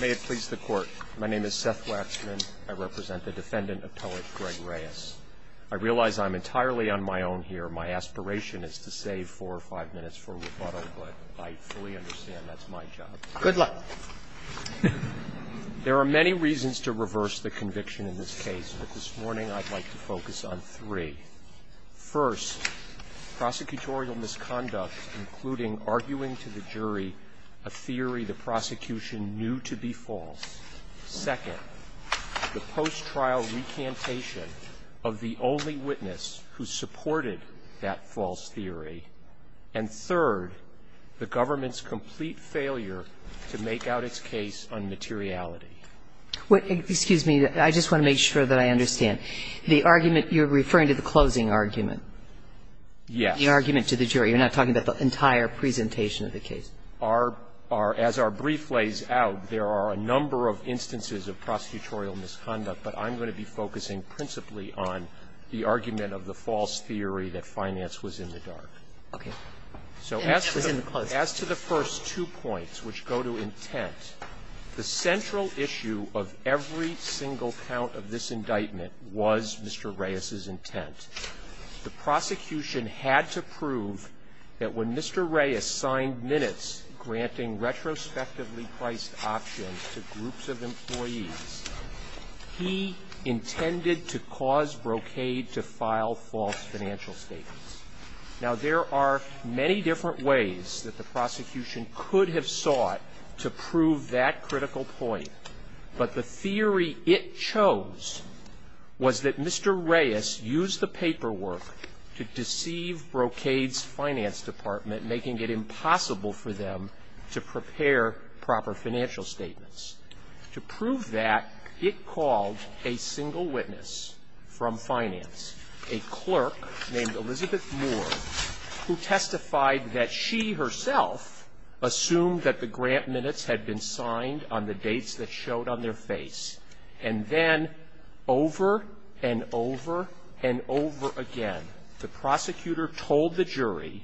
May it please the Court. My name is Seth Waxman. I represent the defendant, Appellate Greg Reyes. I realize I'm entirely on my own here. My aspiration is to save four or five minutes for rebuttal, but I fully understand that's my job. There are many reasons to reverse the conviction in this case, but this morning I'd like to focus on three. First, prosecutorial misconduct, including arguing to the jury a theory the prosecution knew to be false. Second, the post-trial recantation of the only witness who supported that false theory. And third, the government's complete failure to make out its case on materiality. What — excuse me. I just want to make sure that I understand. The argument you're referring to, the closing argument? Yes. The argument to the jury. You're not talking about the entire presentation of the case. Our — as our brief lays out, there are a number of instances of prosecutorial misconduct, but I'm going to be focusing principally on the argument of the false theory that finance was in the dark. Okay. So as to the first two points, which go to intent, the central issue of every single count of this indictment was Mr. Reyes's intent. The prosecution had to prove that when Mr. Reyes signed minutes granting retrospectively priced options to groups of employees, he intended to cause Brocade to file false financial statements. Now, there are many different ways that the prosecution could have sought to prove that critical point, but the theory it chose was that Mr. Reyes used the paperwork to deceive Brocade's finance department, making it impossible for them to prepare proper financial statements. To prove that, it called a single witness from finance, a clerk named Elizabeth Moore, who testified that she herself assumed that the grant minutes had been signed on the dates that showed on their face. And then, over and over and over again, the prosecutor told the jury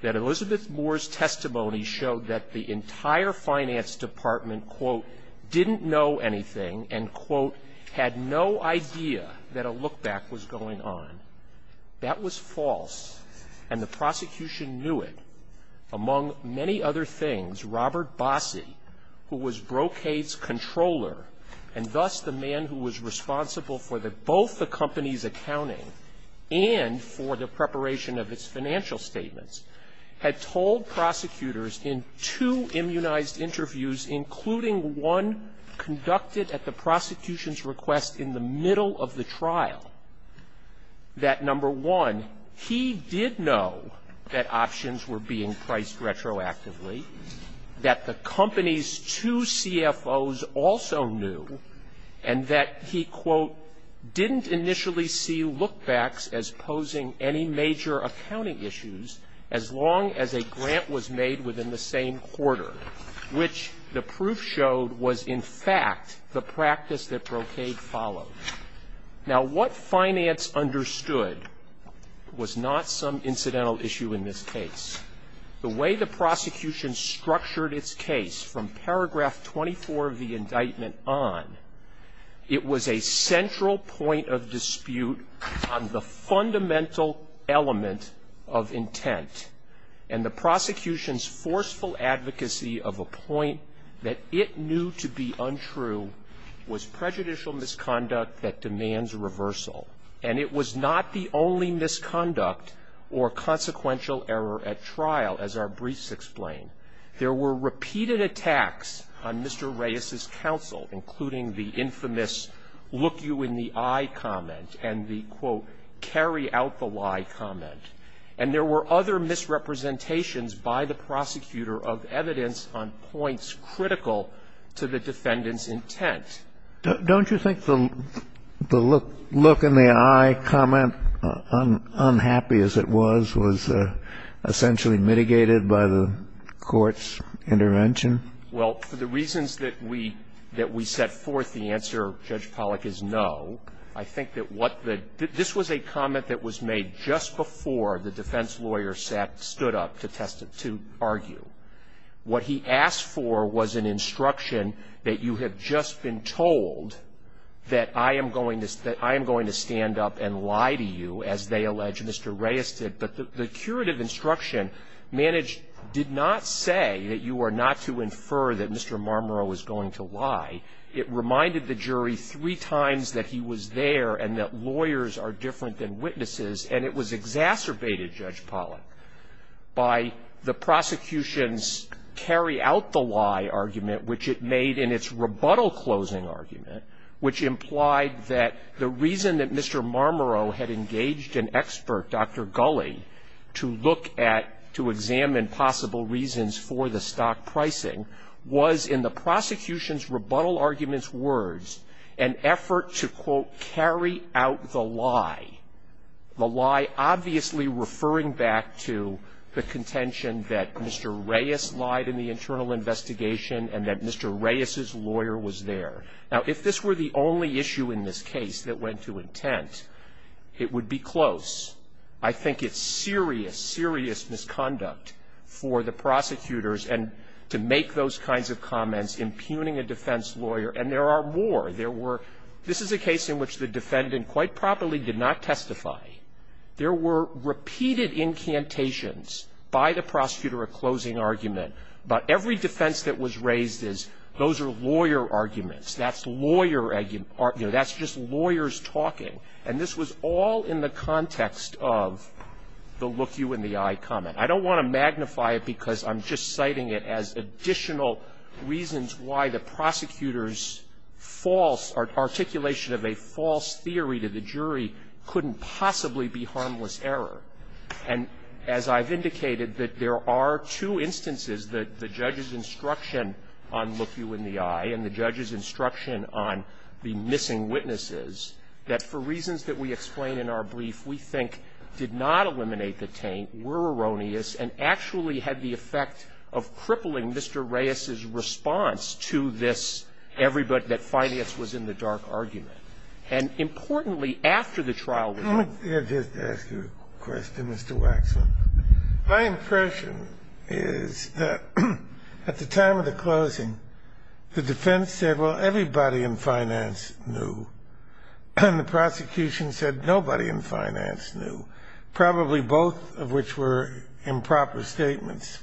that Elizabeth Moore's testimony showed that the entire finance department, quote, didn't know anything, and, quote, had no idea that a look-back was going on. That was false, and the prosecution knew it. Among many other things, Robert Bossie, who was Brocade's controller, and thus the man who was responsible for both the company's accounting and for the preparation of its financial statements, had told prosecutors in two immunized interviews, including one conducted at the prosecution's request in the middle of the trial, that, number one, he did know that options were being priced retroactively, that the company's two CFOs also knew, and that he, quote, didn't initially see look-backs as posing any major accounting issues as long as a grant was made within the same quarter, which the proof showed was, in fact, the practice that Brocade followed. Now what finance understood was not some incidental issue in this case. The way the prosecution structured its case from paragraph 24 of the indictment on, it was a central point of dispute on the fundamental element of intent, and the prosecution's forceful advocacy of a point that it knew to be untrue was prejudicial misconduct that demands reversal, and it was not the only misconduct or consequential error at trial, as our briefs explain. There were repeated attacks on Mr. Reyes's counsel, including the infamous look-you-in-the-eye comment and the, quote, carry-out-the-lie comment, and there were other misrepresentations by the prosecutor of evidence on points critical to the defendant's intent. Don't you think the look-in-the-eye comment, unhappy as it was, was essentially mitigated by the Court's intervention? Well, for the reasons that we set forth, the answer, Judge Pollack, is no. I think that what the – this was a comment that was made just before the defense lawyer stood up to test – to argue. What he asked for was an instruction that you have just been told that I am going to stand up and lie to you, as they allege Mr. Reyes did. But the curative instruction did not say that you are not to infer that Mr. Reyes is a liar and that lawyers are different than witnesses, and it was exacerbated, Judge Pollack, by the prosecution's carry-out-the-lie argument, which it made in its rebuttal-closing argument, which implied that the reason that Mr. Marmoreau had engaged an expert, Dr. Gulley, to look at – to examine possible reasons for the stock pricing was in the prosecution's rebuttal argument's words, an effort to, quote, carry out the lie, the lie obviously referring back to the contention that Mr. Reyes lied in the internal investigation and that Mr. Reyes's lawyer was there. Now, if this were the only issue in this case that went to intent, it would be close. I think it's serious, serious misconduct for the prosecutors and – to make those kinds of comments, impugning a defense lawyer, and there are more. There were – this is a case in which the defendant quite properly did not testify. There were repeated incantations by the prosecutor of closing argument, but every defense that was raised is those are lawyer arguments, that's lawyer – that's just lawyers talking, and this was all in the context of the look-you-in-the-eye comment. I don't want to magnify it because I'm just citing it as additional reasons why the prosecutor's false – or articulation of a false theory to the jury couldn't possibly be harmless error. And as I've indicated, that there are two instances that the judge's instruction on look-you-in-the-eye and the judge's instruction on the missing witnesses, that for reasons that we explain in our brief, we think did not eliminate the taint, were erroneous, and actually had the effect of crippling Mr. Reyes's response to this everybody – that finance was in the dark argument. And importantly, after the trial was over – Let me just ask you a question, Mr. Waxman. My impression is that at the time of the trial, nobody in finance knew, and the prosecution said nobody in finance knew, probably both of which were improper statements.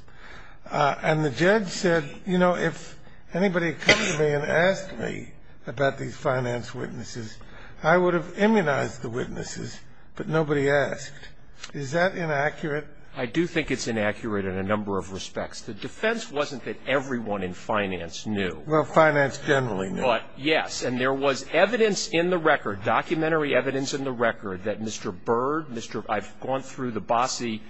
And the judge said, you know, if anybody had come to me and asked me about these finance witnesses, I would have immunized the witnesses, but nobody asked. Is that inaccurate? I do think it's inaccurate in a number of respects. The defense wasn't that everyone in finance knew. Well, finance generally knew. But, yes. And there was evidence in the record, documentary evidence in the record, that Mr. Byrd, Mr. – I've gone through the bossy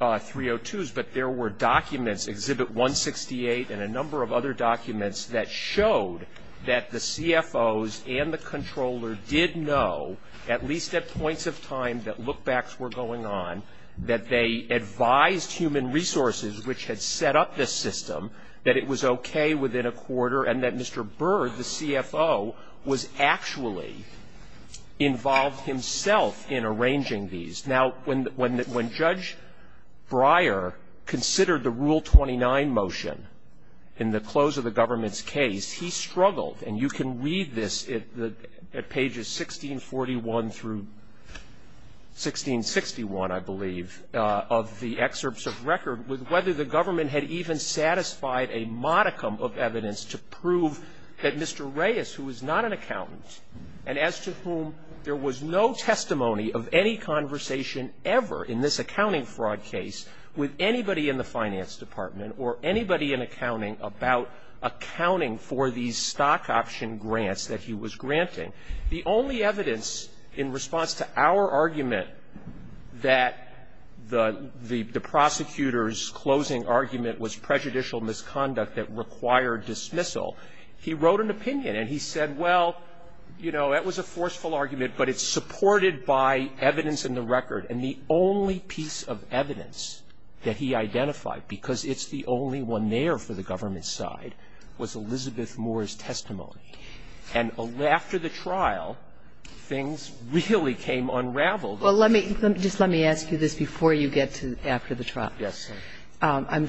302s, but there were documents, Exhibit 168 and a number of other documents, that showed that the CFOs and the controller did know, at least at points of time that look-backs were going on, that they advised human resources, which had set up this system, that it was okay within a quarter, and that Mr. Byrd, the CFO, was actually involved himself in arranging these. Now, when Judge Breyer considered the Rule 29 motion in the close of the government's case, he struggled, and you can read this at pages 1641 through 1661, I believe, of the excerpts of record, with whether the government had even satisfied a modicum of evidence to prove that Mr. Reyes, who was not an accountant, and as to whom there was no testimony of any conversation ever in this accounting fraud case with anybody in the finance department or anybody in accounting about accounting for these stock option grants that he was granting, the only argument was prejudicial misconduct that required dismissal, he wrote an opinion, and he said, well, you know, that was a forceful argument, but it's supported by evidence in the record, and the only piece of evidence that he identified, because it's the only one there for the government's side, was Elizabeth Moore's opinion, which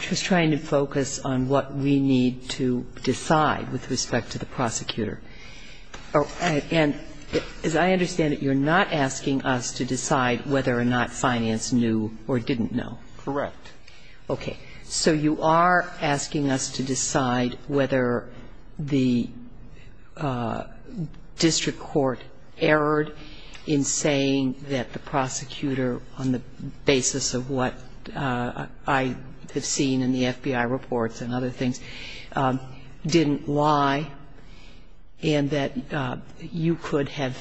was trying to focus on what we need to decide with respect to the prosecutor. And as I understand it, you're not asking us to decide whether or not finance knew or didn't know. Correct. Okay. So you are asking us to decide whether the district court erred in saying that the prosecutor, on the basis of what I have seen in the FBI reports and other things, didn't lie, and that you could have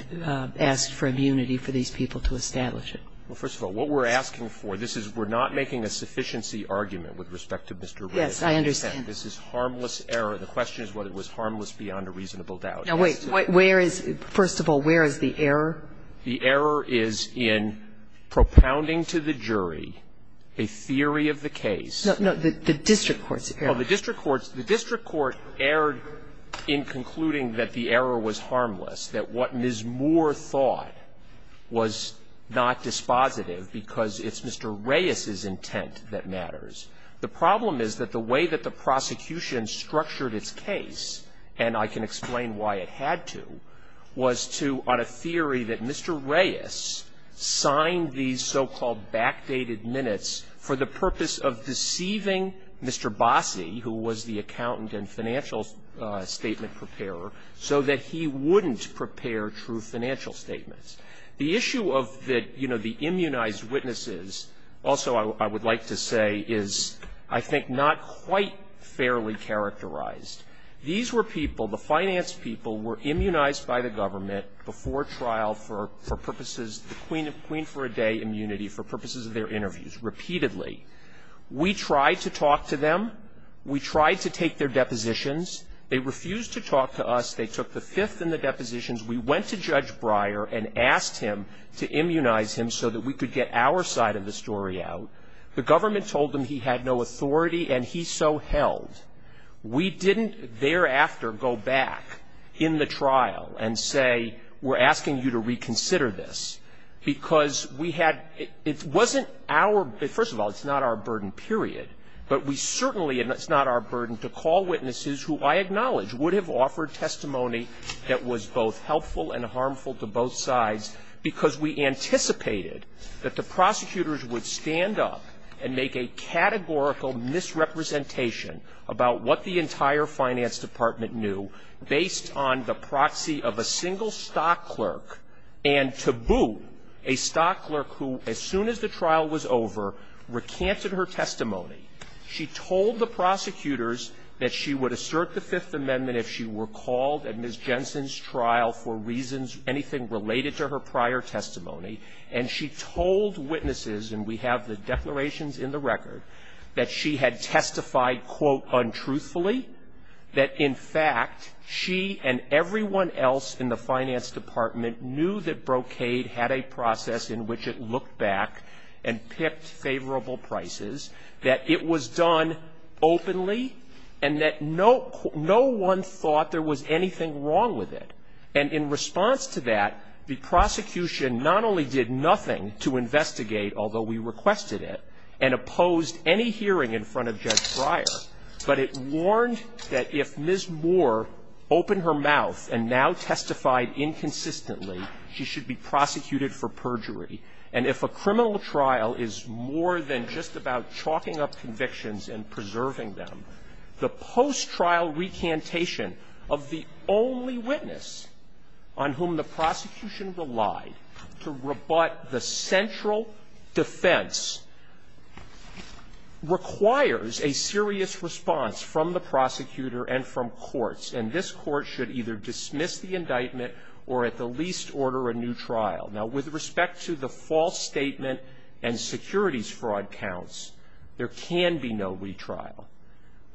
asked for immunity for these people to establish it. Well, first of all, what we're asking for, this is, we're not making a sufficiency argument with respect to Mr. Reyes. Yes, I understand. This is harmless error. The question is whether it was harmless beyond a reasonable doubt. Now, wait. Where is, first of all, where is the error? The error is in propounding to the jury a theory of the case. No, the district court's error. The district court erred in concluding that the error was harmless, that what Ms. Moore thought was not dispositive because it's Mr. Reyes's intent that matters. The problem is that the way that the prosecution structured its case, and I can explain why it had to, was to, on a theory that Mr. Reyes signed these so-called backdated minutes for the purpose of deceiving Mr. Bossie, who was the accountant and financial statement preparer, so that he wouldn't prepare true financial statements. The issue of the, you know, the immunized witnesses also I would like to say is, I think, not quite fairly characterized. These were people, the finance people, were immunized by the government before trial for purposes, the queen for a day immunity, for purposes of their interviews, repeatedly. We tried to talk to them. We tried to ask him to immunize him so that we could get our side of the story out. The government told them he had no authority, and he so held. We didn't thereafter go back in the trial and say, we're asking you to reconsider this, because we had, it wasn't our, first of all, it's not our burden, period. But we certainly, and it's not our burden, to call witnesses who I acknowledge would have offered testimony that was both helpful and harmful to both sides, because we anticipated that the prosecutors would stand up and make a categorical misrepresentation about what the entire finance department knew, based on the proxy of a single stock clerk, and to boot, a stock clerk who, as soon as the trial was over, recanted her testimony. She told the prosecutors that she would assert the Fifth Amendment if she were called at Ms. Jensen's trial for reasons, anything related to her prior testimony. And she told witnesses, and we have the declarations in the record, that she had testified, quote, untruthfully, that, in fact, she and everyone else in the finance department knew that brocade had a process in which it looked back and picked favorable prices, that it was done openly, and that no one thought there was anything wrong with it. And in response to that, the prosecution not only did nothing to investigate, although we requested it, and opposed any hearing in front of Judge Breyer, but it warned that if Ms. Moore opened her mouth and now testified inconsistently, she should be prosecuted for perjury. And if a criminal trial is more than just about chalking up convictions and preserving them, the post-trial recantation of the only witness on whom the prosecution relied to rebut the central defense requires a serious response from the prosecutor and from courts. And this court should either dismiss the indictment or, at the least, order a new trial. Now, with respect to the false statement and securities fraud counts, there can be no retrial.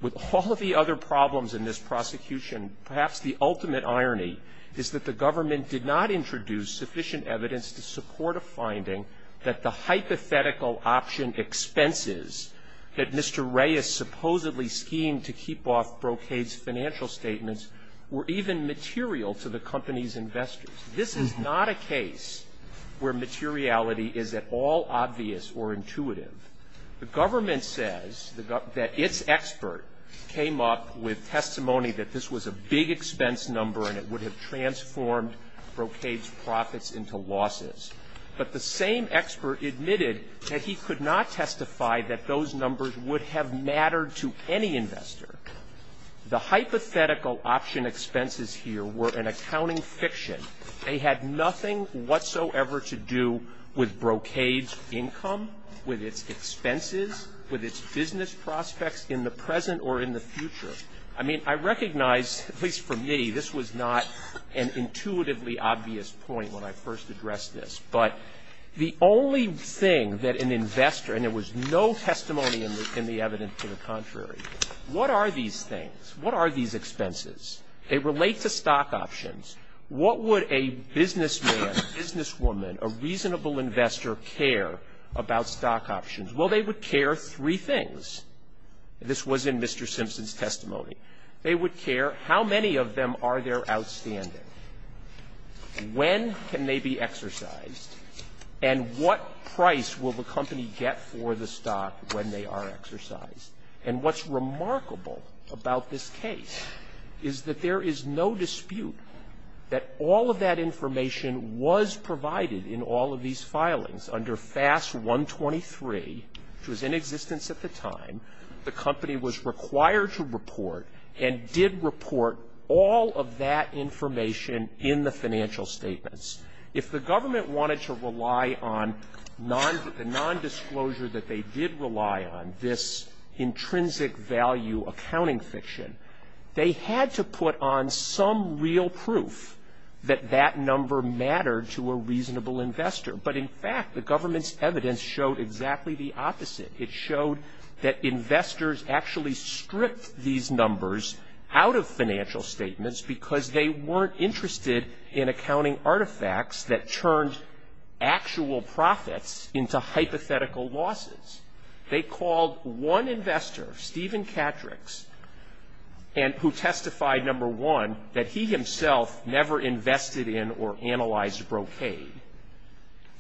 With all of the other problems in this prosecution, perhaps the ultimate irony is that the government did not introduce sufficient evidence to support a finding that the hypothetical option expenses that Mr. Reyes supposedly schemed to keep off brocade's financial statements were even material to the company's investors. This is not a case where materiality is at all obvious or intuitive. The government says that its expert came up with testimony that this was a big expense number and it would have transformed brocade's profits into losses. But the same expert admitted that he could not testify that those numbers would have mattered to any investor. The hypothetical option expenses here were an accounting fiction. They had nothing whatsoever to do with brocade's income, with its expenses, with its business prospects in the present or in the future. I mean, I recognize, at least for me, this was not an intuitively obvious point when I first addressed this. But the only thing that an investor, and there was no testimony in the evidence to the contrary, what are these things? What are these expenses? They relate to stock options. What would a businessman, businesswoman, a reasonable investor care about stock options? Well, they would care three things. This was in Mr. Simpson's testimony. They would care how many of them are there outstanding, when can they be exercised, and what price will the company get for the stock when they are exercised. And what's remarkable about this case is that there is no dispute that all of that information was provided in all of these filings under FAS 123, which was in existence at the time. The company was required to report and did report all of that information in the financial statements. If the government wanted to rely on the nondisclosure that they did rely on, this intrinsic value accounting fiction, they had to put on some real proof that that number mattered to a reasonable investor. But in fact, the government's evidence showed exactly the opposite. It showed that they were not interested in accounting artifacts that turned actual profits into hypothetical losses. They called one investor, Steven Catrix, who testified number one, that he himself never invested in or analyzed brocade.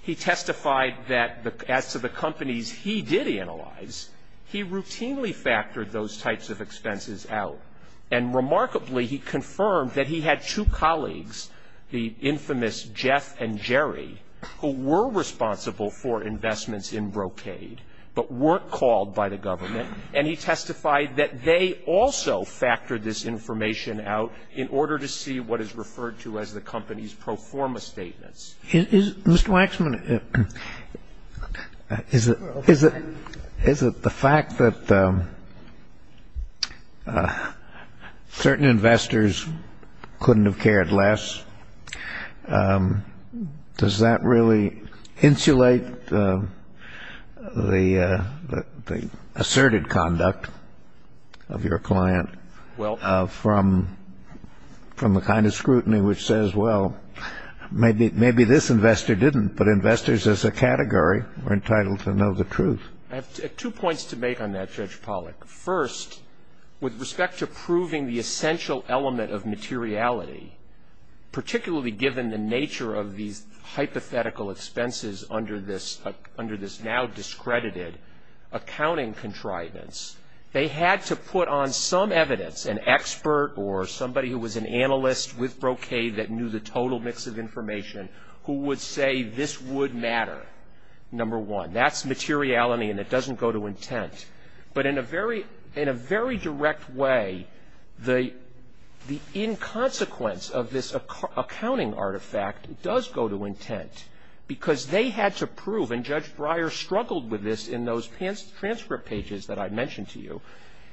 He testified that as to the companies he did analyze, he routinely factored those types of expenses out. And remarkably, he confirmed that he had two colleagues, the infamous Jeff and Jerry, who were responsible for investments in brocade, but weren't called by the government. And he testified that they also factored this information out in order to see what is referred to as the company's pro forma statements. Mr. Waxman, is it the fact that certain investors couldn't have cared less? Does that really insulate the asserted conduct of your client from the kind of scrutiny which says, well, maybe this investor didn't, but investors as a category were entitled to know the truth? I have two points to make on that, Judge Pollack. First, with respect to proving the essential element of materiality, particularly given the nature of these hypothetical expenses under this now discredited accounting contrivance, they had to put on some evidence, an expert or somebody who was an analyst with brocade that knew the total mix of information, who would say this would matter, number one. That's materiality and it doesn't go to intent. But in a very direct way, the inconsequence of this accounting artifact does go to intent, because they had to prove, and Judge Breyer struggled with this in those transcript pages that I mentioned to you,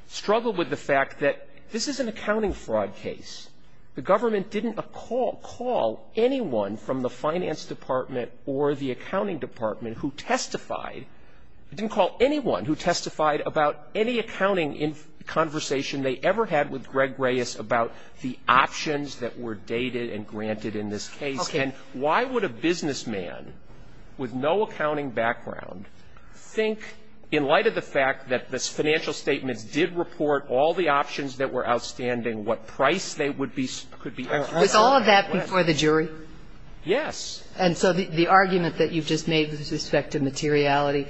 struggled with the fact that this is an accounting fraud case. The government didn't call anyone from the finance department or the accounting department who testified, didn't call anyone who testified about any accounting conversation they ever had with Greg Reyes about the options that were dated and granted in this case. And why would a businessman with no accounting background think, in light of the fact that the financial statements did report all the options that were outstanding, what price they would be, could be? Was all of that before the jury? Yes. And so the argument that you've just made with respect to materiality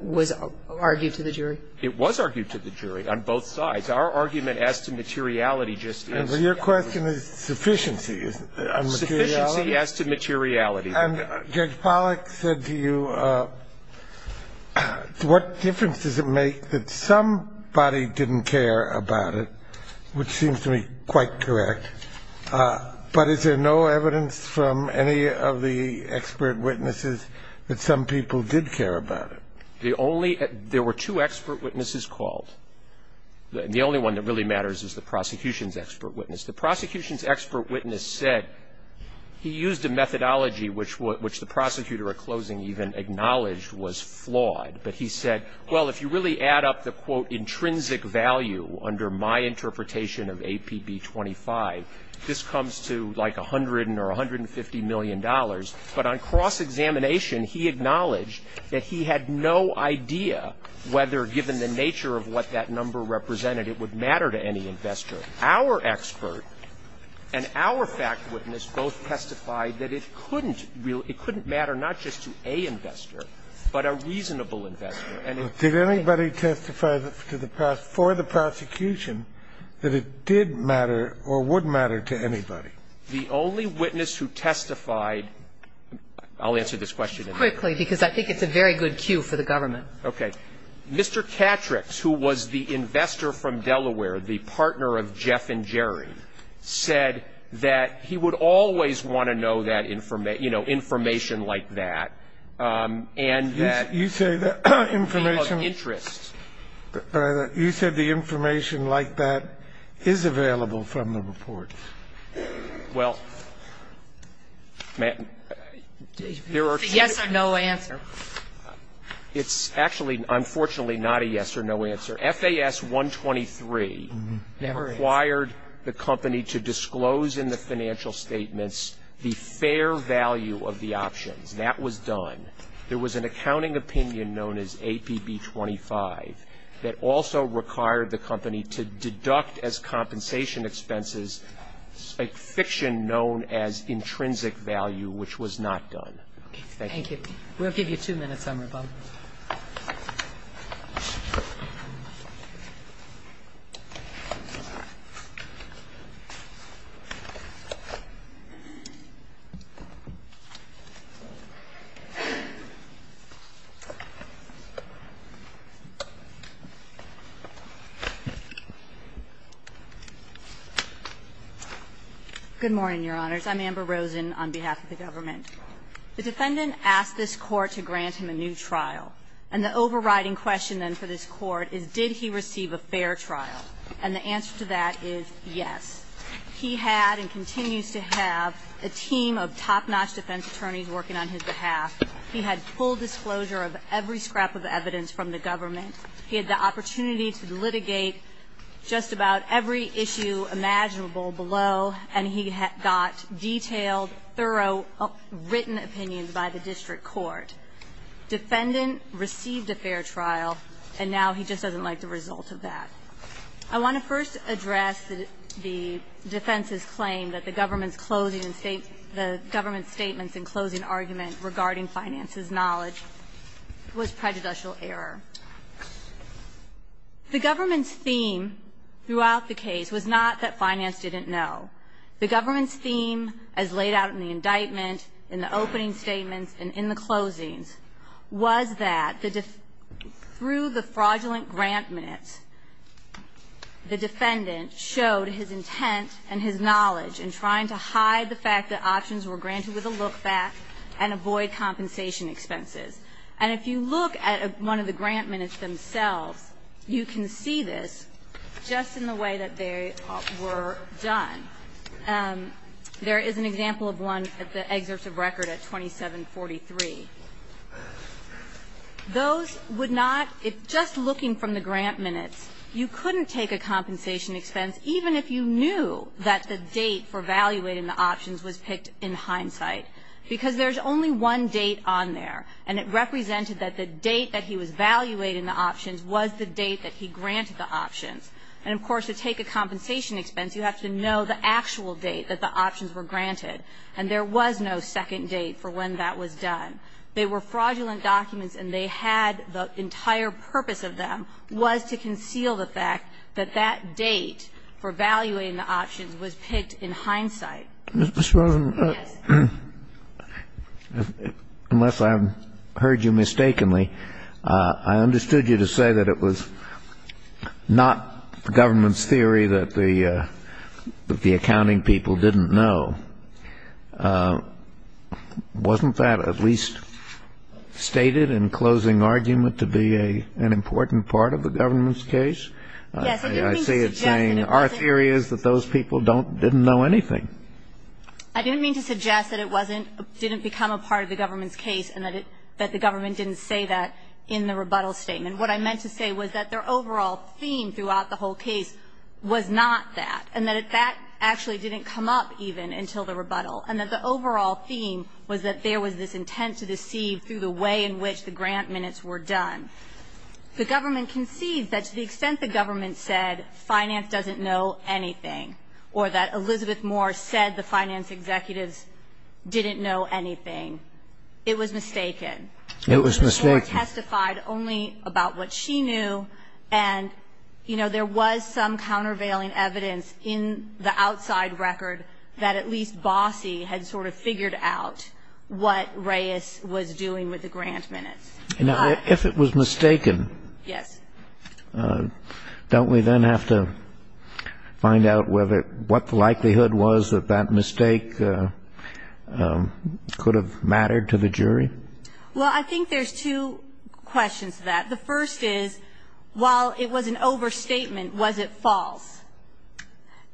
was argued to the jury? It was argued to the jury on both sides. Our argument as to materiality just is. Well, your question is sufficiency, isn't it, on materiality? Sufficiency as to materiality. And Judge Pollack said to you, what difference does it make that somebody didn't care about it, which seems to me that some people did care about it. There were two expert witnesses called. The only one that really matters is the prosecution's expert witness. The prosecution's expert witness said he used a methodology which the prosecutor at closing even acknowledged was flawed. But he said, well, if you really add up the, quote, intrinsic value under my interpretation of examination, he acknowledged that he had no idea whether, given the nature of what that number represented, it would matter to any investor. Our expert and our fact witness both testified that it couldn't matter not just to a investor, but a reasonable investor. Did anybody testify for the prosecution that it did matter or would matter to anybody? The only witness who testified, I'll answer this question in a minute. Quickly, because I think it's a very good cue for the government. Okay. Mr. Catrix, who was the investor from Delaware, the partner of Jeff and Jerry, said that he would always want to know that information, you know, information like that, and that people of interest. You say the information like that is available from the reports. Well, there are two... It's a yes or no answer. It's actually, unfortunately, not a yes or no answer. FAS 123 required the company to disclose in the financial statements the fair value of the options. That was done. There was an accounting opinion known as APB 25 that also required the company to deduct as compensation expenses a fiction known as intrinsic value, which was not done. Okay. Thank you. Thank you. We'll give you two minutes on rebuttal. Good morning, Your Honors. I'm Amber Rosen on behalf of the government. The defendant asked this Court to grant him a new trial, and the overriding question then for this Court is did he receive a fair trial? And the answer to that is yes. He had and continues to have a team of top-notch defense attorneys working on his behalf. He had full disclosure of every scrap of evidence from the government. He had the opportunity to litigate just about every issue imaginable below, and he got detailed, thorough, written opinions by the district court. Defendant received a fair trial, and now he just doesn't like the result of that. I want to first address the defense's claim that the government's statements and closing argument regarding finances knowledge was prejudicial error. The government's theme throughout the case was not that finance didn't know. The government's theme as laid out in the indictment, in the opening statements, and in the closings was that through the fraudulent grant minutes, the defendant showed his intent and his knowledge in trying to hide the fact that he was going to get back and avoid compensation expenses. And if you look at one of the grant minutes themselves, you can see this just in the way that they were done. There is an example of one at the excerpts of record at 2743. Those would not be just looking from the grant minutes. You couldn't take a compensation expense even if you knew that the date for evaluating the options was picked in hindsight, because there's only one date on there, and it represented that the date that he was valuating the options was the date that he granted the options. And, of course, to take a compensation expense, you have to know the actual date that the options were granted, and there was no second date for when that was done. They were fraudulent documents, and they had the entire purpose of them was to conceal the fact that that date for evaluating the options was picked in hindsight. Mr. Rosen, unless I've heard you mistakenly, I understood you to say that it was not the government's theory that the accounting people didn't know. Wasn't that at least stated in closing argument to be an important part of the government's case? Yes. I see it saying our theory is that those people didn't know anything. I didn't mean to suggest that it didn't become a part of the government's case and that the government didn't say that in the rebuttal statement. What I meant to say was that their overall theme throughout the whole case was not that, and that that actually didn't come up even until the rebuttal, and that the overall theme was that there was this intent to deceive through the way in which the grant minutes were done. The government conceived that to the extent the government said finance doesn't know anything, or that Elizabeth Moore said the finance executives didn't know anything, it was mistaken. It was mistaken. Moore testified only about what she knew, and, you know, there was some countervailing evidence in the outside record that at least Bossie had sort of If it was mistaken, don't we then have to find out what the likelihood was that that mistake could have mattered to the jury? Well, I think there's two questions to that. The first is, while it was an overstatement, was it false?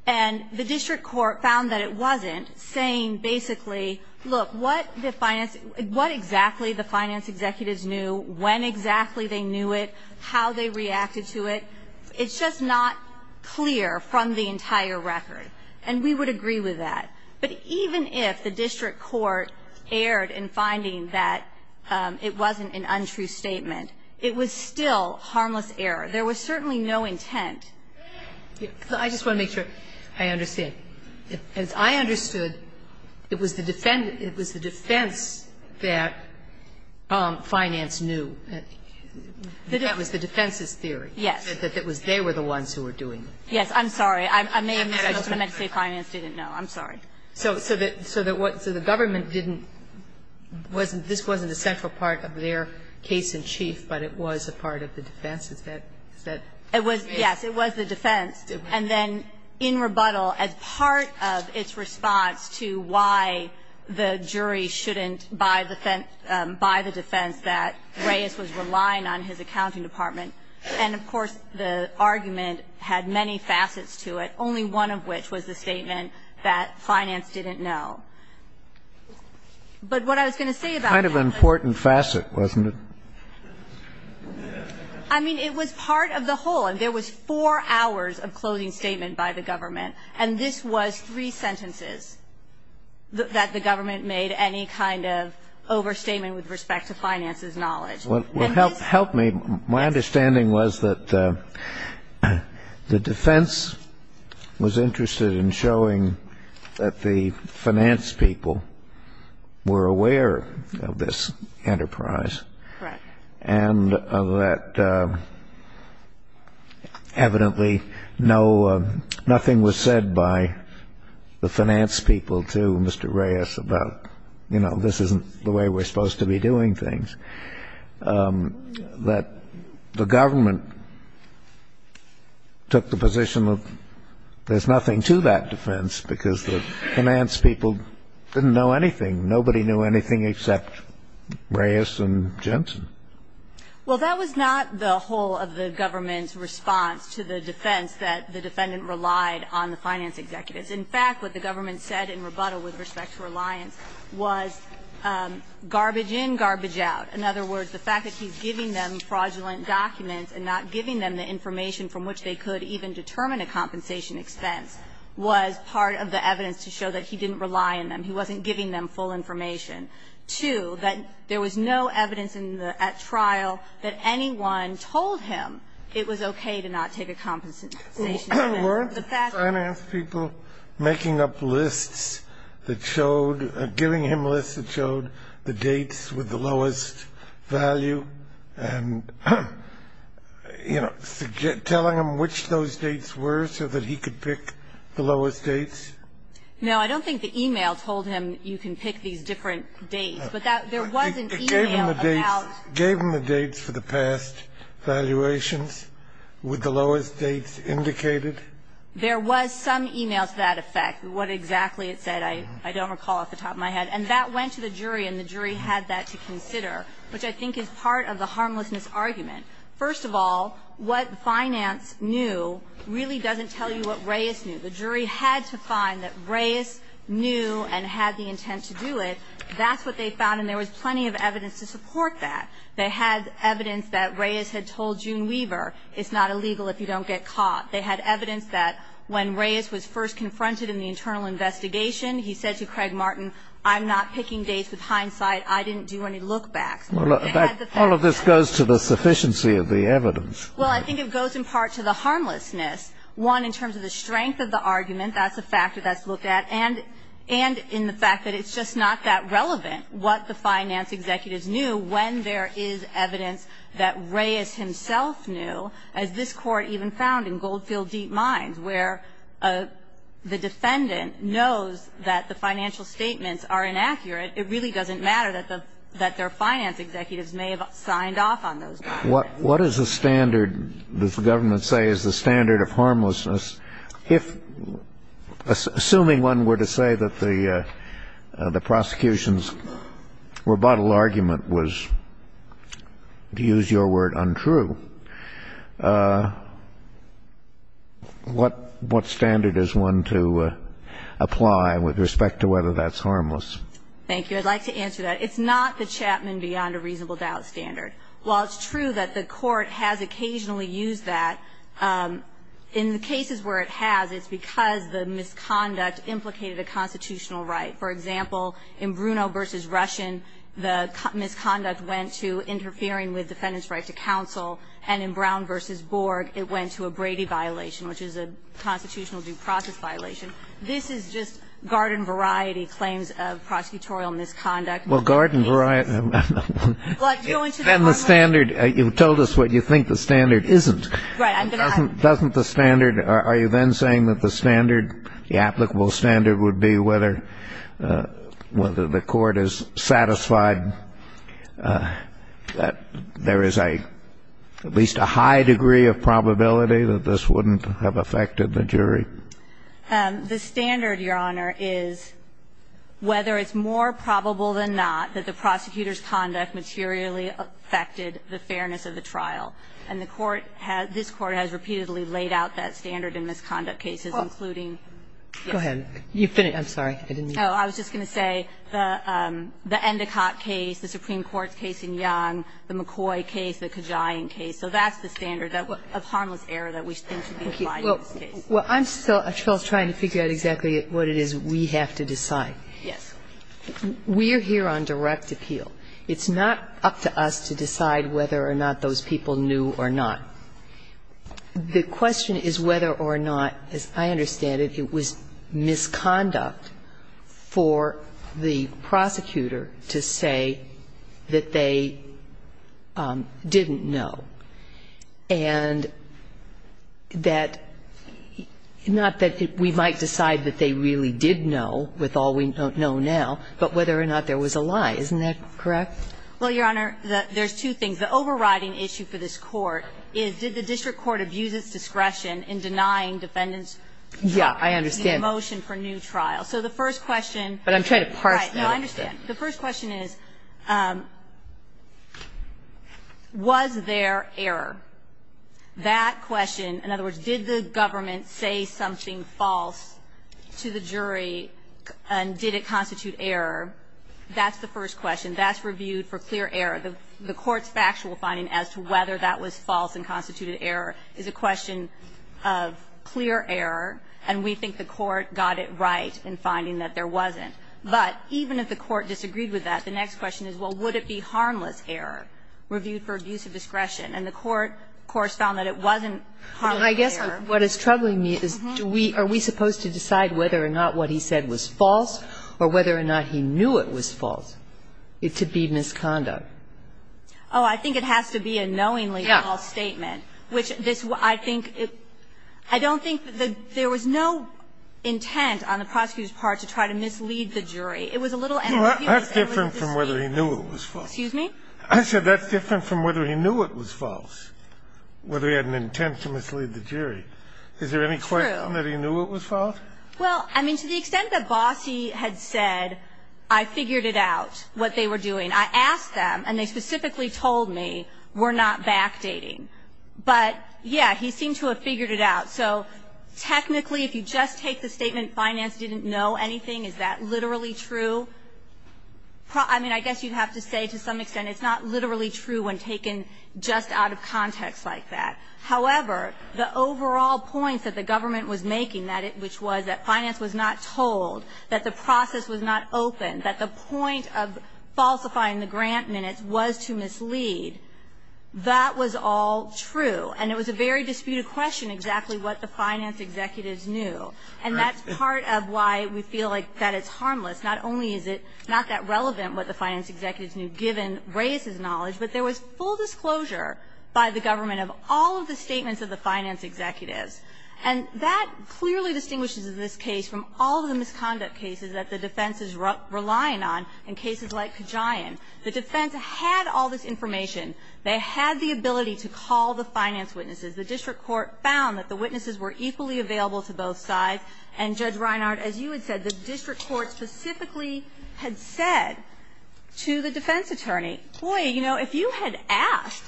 And the district court found that it wasn't, saying basically, look, what exactly the finance executives knew, when exactly they knew it, how they reacted to it. It's just not clear from the entire record, and we would agree with that. But even if the district court erred in finding that it wasn't an untrue statement, it was still harmless error. There was certainly no intent. I just want to make sure I understand. Okay. As I understood, it was the defense that finance knew. That was the defense's theory. Yes. That they were the ones who were doing it. Yes. I'm sorry. I may have meant to say finance didn't know. I'm sorry. So the government didn't, this wasn't a central part of their case in chief, but it was a part of the defense. Is that correct? Yes. It was the defense. And then in rebuttal, as part of its response to why the jury shouldn't buy the defense that Reyes was relying on his accounting department. And, of course, the argument had many facets to it, only one of which was the statement that finance didn't know. But what I was going to say about that. Kind of an important facet, wasn't it? I mean, it was part of the whole. There was four hours of closing statement by the government. And this was three sentences that the government made any kind of overstatement with respect to finance's knowledge. What helped me, my understanding was that the defense was interested in showing that the finance people were aware of this enterprise. Correct. And that evidently nothing was said by the finance people to Mr. Reyes about this isn't the way we're supposed to be doing things. That the government took the position of there's nothing to that defense because the finance people didn't know anything. Nobody knew anything except Reyes and Jensen. Well, that was not the whole of the government's response to the defense that the defendant relied on the finance executives. In fact, what the government said in rebuttal with respect to reliance was garbage in, garbage out. In other words, the fact that he's giving them fraudulent documents and not giving them the information from which they could even determine a compensation expense was part of the evidence to show that he didn't rely on them. He wasn't giving them full information. Two, that there was no evidence at trial that anyone told him it was okay to not take a compensation expense. Weren't the finance people making up lists that showed, giving him lists that showed the dates with the lowest value and, you know, telling him which those dates were so that he could pick the lowest dates? No, I don't think the e-mail told him you can pick these different dates, but there was an e-mail about... It gave him the dates for the past valuations with the lowest dates indicated? There was some e-mail to that effect, what exactly it said. I don't recall off the top of my head. And that went to the jury, and the jury had that to consider, which I think is part of the harmlessness argument. First of all, what finance knew really doesn't tell you what Reyes knew. The jury had to find that Reyes knew and had the intent to do it. That's what they found, and there was plenty of evidence to support that. They had evidence that Reyes had told June Weaver it's not illegal if you don't get caught. They had evidence that when Reyes was first confronted in the internal investigation, he said to Craig Martin, I'm not picking dates with hindsight. I didn't do any look-backs. All of this goes to the sufficiency of the evidence. Well, I think it goes in part to the harmlessness, one, in terms of the strength of the argument, that's a factor that's looked at, and in the fact that it's just not that relevant what the finance executives knew when there is evidence that Reyes himself knew, as this Court even found in Goldfield Deep Mines, where the defendant knows that the financial statements are inaccurate. It really doesn't matter that their finance executives may have signed off on those statements. What is the standard, does the government say, is the standard of harmlessness? Assuming one were to say that the prosecution's rebuttal argument was, to use your word, untrue, what standard is one to apply with respect to whether that's harmless? Thank you. I'd like to answer that. It's not the Chapman beyond a reasonable doubt standard. While it's true that the Court has occasionally used that, in the cases where it has, it's because the misconduct implicated a constitutional right. For example, in Bruno v. Russian, the misconduct went to interfering with the defendant's right to counsel, and in Brown v. Borg, it went to a Brady violation, which is a constitutional due process violation. This is just garden-variety claims of prosecutorial misconduct. Well, garden-variety, and the standard, you've told us what you think the standard isn't. Right, I'm going to ask. Doesn't the standard, are you then saying that the standard, the applicable standard would be whether the Court is satisfied that there is a, at least a high degree of probability that this wouldn't have affected the jury? The standard, Your Honor, is whether it's more probable than not that the prosecutor's conduct materially affected the fairness of the trial. And the Court has, this Court has repeatedly laid out that standard in misconduct cases, including, yes. Go ahead. I'm sorry, I didn't mean to. Oh, I was just going to say the Endicott case, the Supreme Court's case in Young, the McCoy case, the Kajian case. So that's the standard of harmless error that we think should be applied in this Well, I'm still trying to figure out exactly what it is we have to decide. Yes. We're here on direct appeal. It's not up to us to decide whether or not those people knew or not. The question is whether or not, as I understand it, it was misconduct for the prosecutor to say that they didn't know. And that, not that we might decide that they really did know with all we know now, but whether or not there was a lie. Isn't that correct? Well, Your Honor, there's two things. The overriding issue for this Court is did the district court abuse its discretion in denying defendants the motion for new trial? Yeah, I understand. But I'm trying to parse that. Right. No, I understand. The first question is was there error? That question, in other words, did the government say something false to the jury and did it constitute error? That's the first question. That's reviewed for clear error. The Court's factual finding as to whether that was false and constituted error is a question of clear error. And we think the Court got it right in finding that there wasn't. But even if the Court disagreed with that, the next question is, well, would it be harmless error reviewed for abuse of discretion? And the Court, of course, found that it wasn't harmless error. I guess what is troubling me is do we, are we supposed to decide whether or not what he said was false or whether or not he knew it was false to be misconduct? Oh, I think it has to be a knowingly false statement. Yeah. Which this, I think, I don't think that there was no intent on the prosecutor's part to try to mislead the jury. It was a little error. He was able to speak. That's different from whether he knew it was false. Excuse me? I said that's different from whether he knew it was false, whether he had an intent to mislead the jury. It's true. Is there any question that he knew it was false? Well, I mean, to the extent that Bossie had said, I figured it out, what they were doing. I asked them, and they specifically told me, we're not backdating. But, yeah, he seemed to have figured it out. So technically, if you just take the statement, finance didn't know anything, is that literally true? I mean, I guess you'd have to say to some extent it's not literally true when taken just out of context like that. However, the overall point that the government was making, which was that finance was not told, that the process was not open, that the point of falsifying the grant minutes was to mislead, that was all true. And it was a very disputed question, exactly what the finance executives knew. And that's part of why we feel like that it's harmless. Not only is it not that relevant what the finance executives knew, given Reyes's knowledge, but there was full disclosure by the government of all of the statements of the finance executives. And that clearly distinguishes this case from all of the misconduct cases that the defense is relying on in cases like Kajian. The defense had all this information. They had the ability to call the finance witnesses. The district court found that the witnesses were equally available to both sides. And Judge Reinhardt, as you had said, the district court specifically had said to the defense attorney, boy, you know, if you had asked,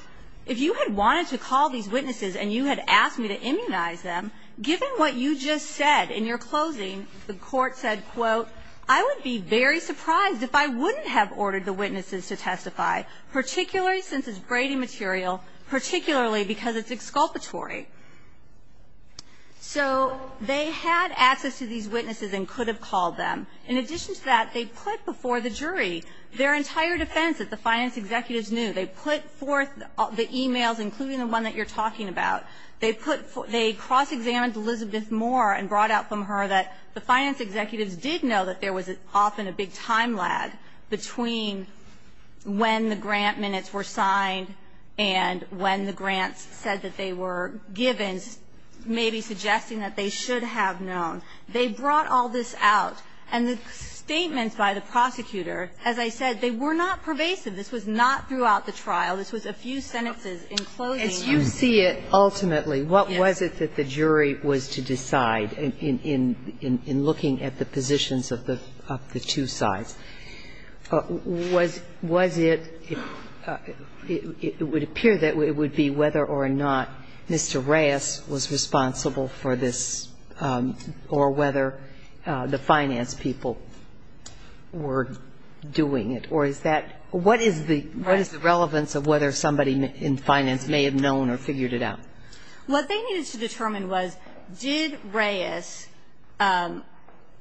if you had wanted to call these witnesses and you had asked me to immunize them, given what you just said in your closing, the court said, quote, I would be very surprised if I wouldn't have ordered the witnesses to testify, particularly since it's braiding material, particularly because it's exculpatory. So they had access to these witnesses and could have called them. In addition to that, they put before the jury their entire defense that the finance executives knew. They put forth the e-mails, including the one that you're talking about. They put, they cross-examined Elizabeth Moore and brought out from her that the finance executives did know that there was often a big time lag between when the grant minutes were signed and when the grants said that they were given, maybe suggesting that they should have known. They brought all this out. And the statements by the prosecutor, as I said, they were not pervasive. This was not throughout the trial. This was a few sentences in closing. As you see it, ultimately, what was it that the jury was to decide in looking at the positions of the two sides? Was it, it would appear that it would be whether or not Mr. Reyes was responsible for this or whether the finance people were doing it. Or is that, what is the relevance of whether somebody in finance may have known or figured it out? What they needed to determine was did Reyes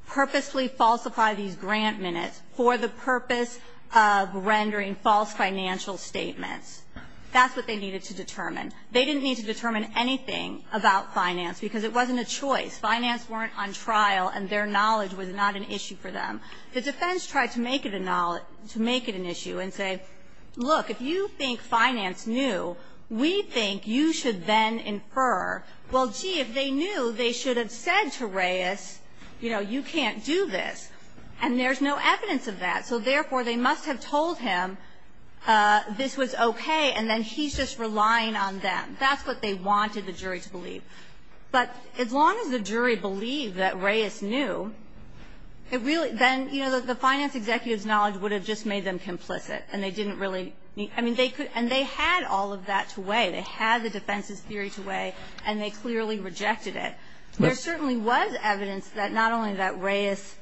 purposely falsify these grant minutes for the purpose of rendering false financial statements? That's what they needed to determine. They didn't need to determine anything about finance because it wasn't a choice. Finance weren't on trial and their knowledge was not an issue for them. The defense tried to make it an issue and say, look, if you think finance knew, we think you should then infer, well, gee, if they knew they should have said to Reyes, you know, you can't do this. And there's no evidence of that. So therefore they must have told him this was okay and then he's just relying on them. That's what they wanted the jury to believe. But as long as the jury believed that Reyes knew, it really, then, you know, the finance executive's knowledge would have just made them complicit and they didn't really, I mean, they could, and they had all of that to weigh. They had the defense's theory to weigh and they clearly rejected it. There certainly was evidence that not only that Reyes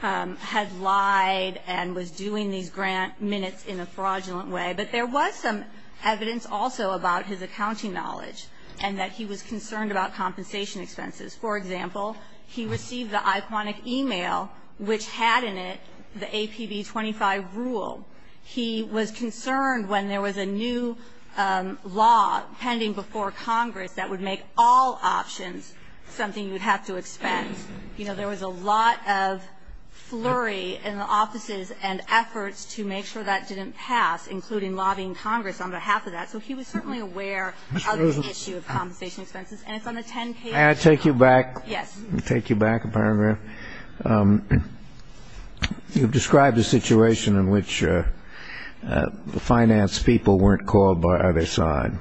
had lied and was doing these grant minutes in a fraudulent way, but there was some evidence also about his accounting knowledge and that he was concerned about compensation expenses. For example, he received the Iquanic email which had in it the APB 25 rule. He was concerned when there was a new law pending before Congress that would make all options something you would have to expense. You know, there was a lot of flurry in the offices and efforts to make sure that didn't pass, including lobbying Congress on behalf of that. So he was certainly aware of the issue of compensation expenses. And it's on the 10 page. May I take you back? Yes. Take you back a paragraph? You've described a situation in which the finance people weren't called by other side.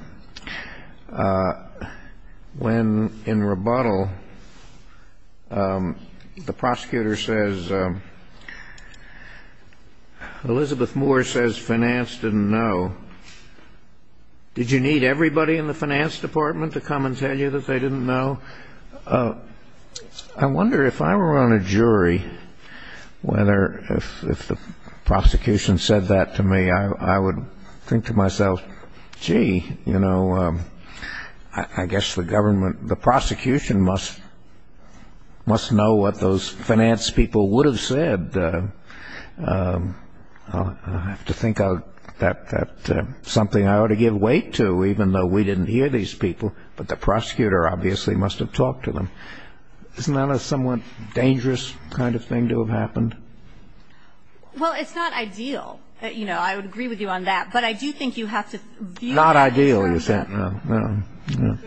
When in rebuttal, the prosecutor says, Elizabeth Moore says finance didn't know. Did you need everybody in the finance department to come and tell you that they didn't know? I wonder if I were on a jury whether if the prosecution said that to me, I would think to myself, gee, you know, I guess the government, the prosecution must know what those finance people would have said. I have to think that something I ought to give weight to, even though we didn't hear these people, but the prosecutor obviously must have talked to them. Isn't that a somewhat dangerous kind of thing to have happened? Well, it's not ideal. You know, I would agree with you on that, but I do think you have to view. Not ideal, you said. No, no, no, no.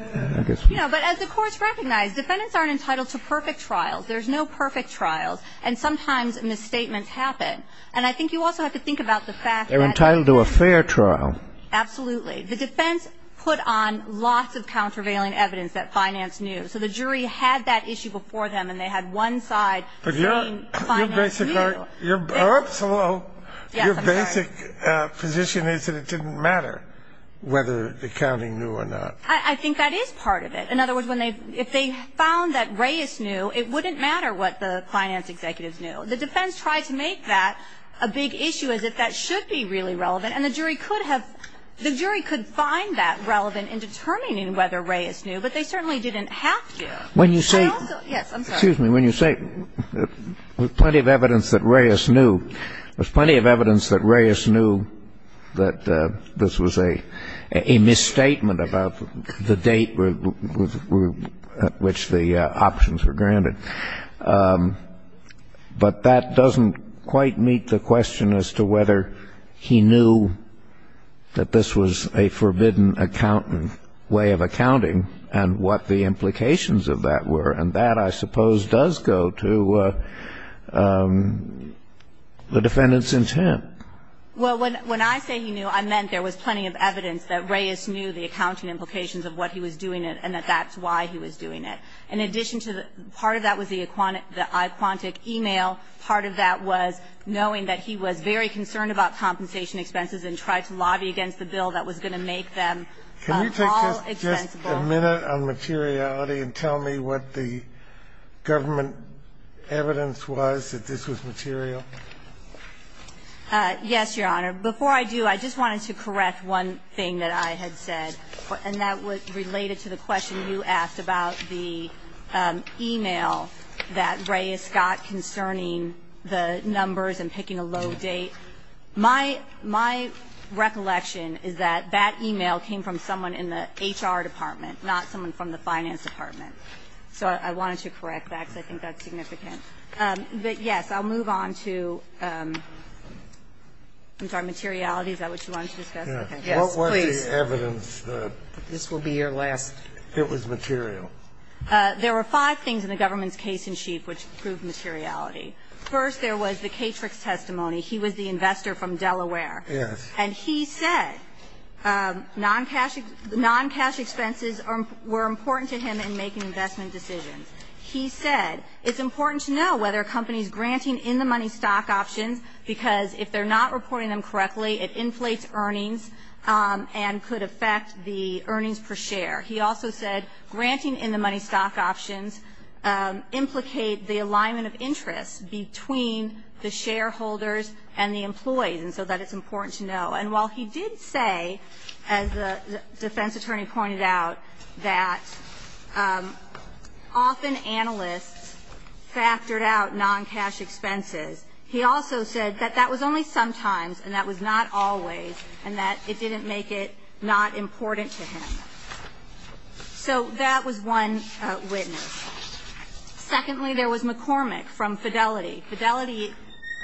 But as the courts recognize, defendants aren't entitled to perfect trials. There's no perfect trials. And sometimes misstatements happen. And I think you also have to think about the fact that. They're entitled to a fair trial. Absolutely. The defense put on lots of countervailing evidence that finance knew. So the jury had that issue before them and they had one side. Your basic position is that it didn't matter whether the accounting knew or not. I think that is part of it. In other words, when they if they found that Reyes knew, it wouldn't matter what the finance executives knew. The defense tried to make that a big issue, as if that should be really relevant. And the jury could have. The jury could find that relevant in determining whether Reyes knew, but they certainly didn't have to. When you say. Yes, excuse me. When you say plenty of evidence that Reyes knew, there's plenty of evidence that Reyes knew that this was a misstatement about the date at which the options were granted. But that doesn't quite meet the question as to whether he knew that this was a forbidden accountant way of accounting and what the implications of that were. And that, I suppose, does go to the defendant's intent. Well, when I say he knew, I meant there was plenty of evidence that Reyes knew the accounting implications of what he was doing and that that's why he was doing it. In addition to that, part of that was the Iquantic email. Part of that was knowing that he was very concerned about compensation expenses and tried to lobby against the bill that was going to make them all Just a minute on materiality and tell me what the government evidence was that this was material. Yes, Your Honor. Before I do, I just wanted to correct one thing that I had said, and that was related to the question you asked about the email that Reyes got concerning the numbers and picking a low date. My, my recollection is that that email came from someone in the HR department, not someone from the finance department. So I wanted to correct that because I think that's significant. But yes, I'll move on to, I'm sorry, materiality. Is that what you wanted to discuss? Yes, please. What was the evidence that this will be your last? It was material. There were five things in the government's case in chief which proved materiality. First, there was the Catrix testimony. He was the investor from Delaware. Yes. And he said, um, non-cash, non-cash expenses were important to him in making investment decisions. He said, it's important to know whether a company's granting in the money stock options because if they're not reporting them correctly, it inflates earnings, um, and could affect the earnings per share. He also said granting in the money stock options, um, could implicate the alignment of interest between the shareholders and the employees. And so that it's important to know. And while he did say, as the defense attorney pointed out, that, um, often analysts factored out non-cash expenses. He also said that that was only sometimes, and that was not always, and that it didn't make it not important to him. So that was one, uh, witness. Secondly, there was McCormick from Fidelity. Fidelity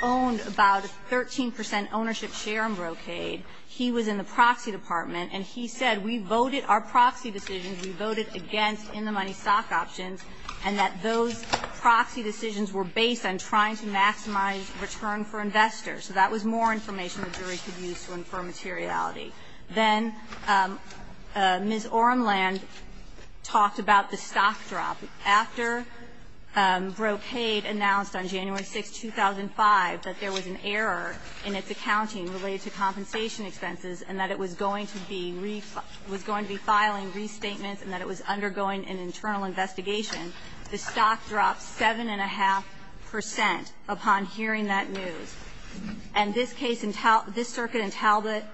owned about 13% ownership share in Brocade. He was in the proxy department, and he said, we voted our proxy decisions, we voted against in the money stock options, and that those proxy decisions were based on trying to maximize return for investors. So that was more information the jury could use to infer materiality. Then, um, uh, Brocade talked about the stock drop. After, um, Brocade announced on January 6, 2005, that there was an error in its accounting related to compensation expenses, and that it was going to be refiling, was going to be filing restatements, and that it was undergoing an internal investigation, the stock dropped 7.5% upon hearing that news. And this case, this circuit in Talbot,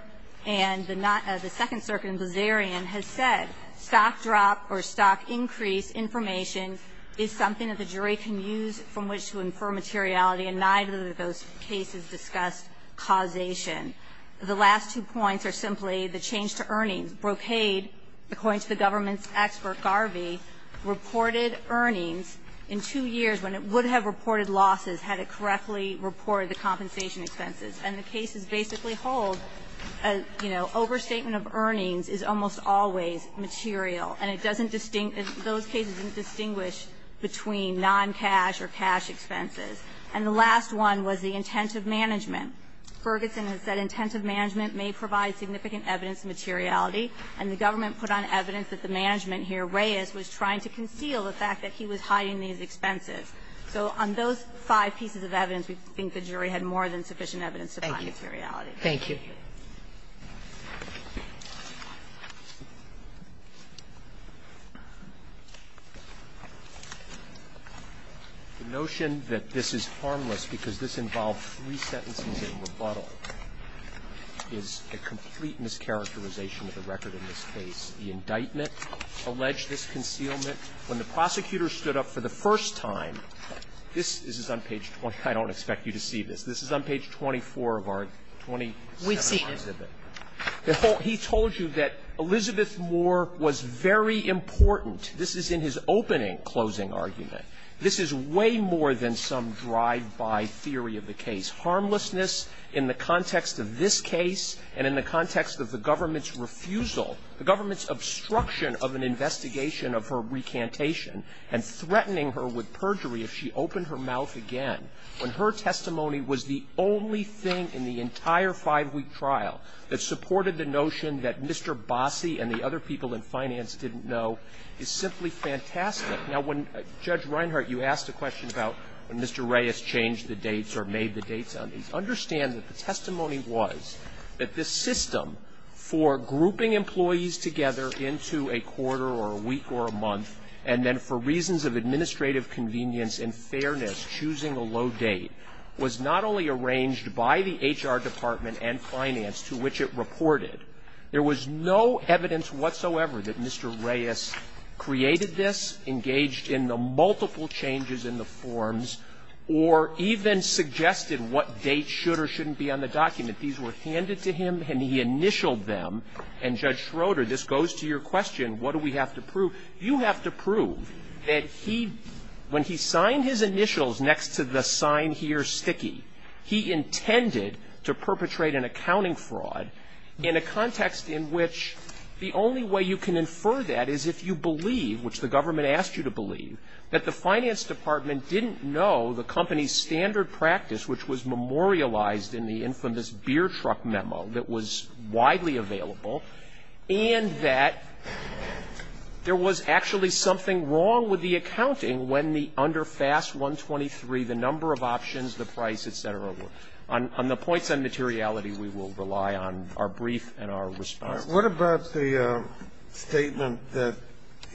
and the second circuit in Blazarian has said, stock drop or stock increase information is something that the jury can use from which to infer materiality, and neither of those cases discussed causation. The last two points are simply the change to earnings. Brocade, according to the government's expert, Garvey, reported earnings in two years when it would have reported losses had it correctly reported the compensation expenses. And the cases basically hold, you know, overstatement of earnings is almost always material, and it doesn't distinguish, those cases don't distinguish between non-cash or cash expenses. And the last one was the intent of management. Ferguson has said intent of management may provide significant evidence of materiality, and the government put on evidence that the management here, Reyes, was trying to conceal the fact that he was hiding these expenses. So on those five pieces of evidence, we think the jury had more than sufficient evidence to find materiality. Thank you. Thank you. The notion that this is harmless because this involved three sentences in rebuttal is a complete mischaracterization of the record in this case. The indictment alleged this concealment. When the prosecutor stood up for the first time, this is on page 20. I don't expect you to see this. This is on page 24 of our 2017 exhibit. We see it. He told you that Elizabeth Moore was very important. This is in his opening closing argument. This is way more than some drive-by theory of the case. Harmlessness in the context of this case and in the context of the government's refusal, the government's obstruction of an investigation of her recantation and threatening her with perjury if she opened her mouth again when her testimony was the only thing in the entire five-week trial that supported the notion that Mr. Bossi and the other people in finance didn't know is simply fantastic. Now, when Judge Reinhart, you asked a question about when Mr. Reyes changed the dates or made the dates on these. Understand that the testimony was that this system for grouping employees together into a quarter or a week or a month and then for reasons of administrative convenience and fairness choosing a low date was not only arranged by the HR Department and finance to which it reported. There was no evidence whatsoever that Mr. Reyes created this, engaged in the multiple changes in the forms, or even suggested what dates should or shouldn't be on the document. These were handed to him and he initialed them. And, Judge Schroeder, this goes to your question, what do we have to prove? You have to prove that he, when he signed his initials next to the sign here, sticky, he intended to perpetrate an accounting fraud in a context in which the only way you can infer that is if you believe, which the government asked you to believe, that the finance department didn't know the company's standard practice which was memorialized in the infamous beer truck memo that was widely available and that there was actually something wrong with the accounting when the under FAS 123, the number of options, the price, etc. On the points on materiality, we will rely on our brief and our response. What about the statement that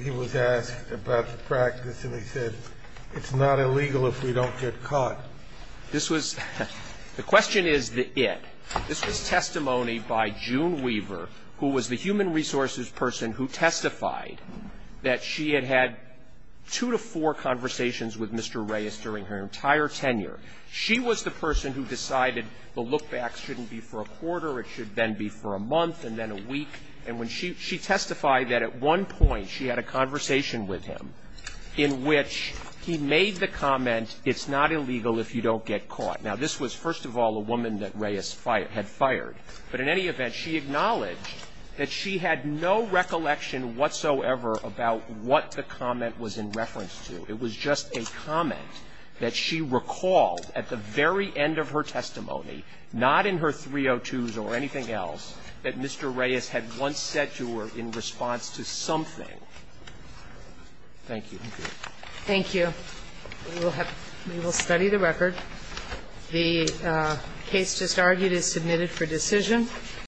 he was asked about the practice and he said it's not illegal if we don't get caught? This was, the question is the it. This was testimony by June Weaver, who was the human resources person who testified that she had had two to four conversations with Mr. Reyes during her entire tenure. She was the person who decided the look back shouldn't be for a quarter, it should then be for a month and then a week. And when she testified that at one point she had a conversation with him in which he made the comment it's not illegal if you don't get caught. Now this was first of all a woman that Reyes had fired, but in any event she acknowledged that she had no recollection whatsoever about what the comment was in reference to. It was just a comment that she recalled at the very end of her testimony, not in her 302s or anything else, that Mr. Reyes had once said to her in response to something. Thank you. Thank you. Thank you. We will study the record. The case just argued is submitted for decision.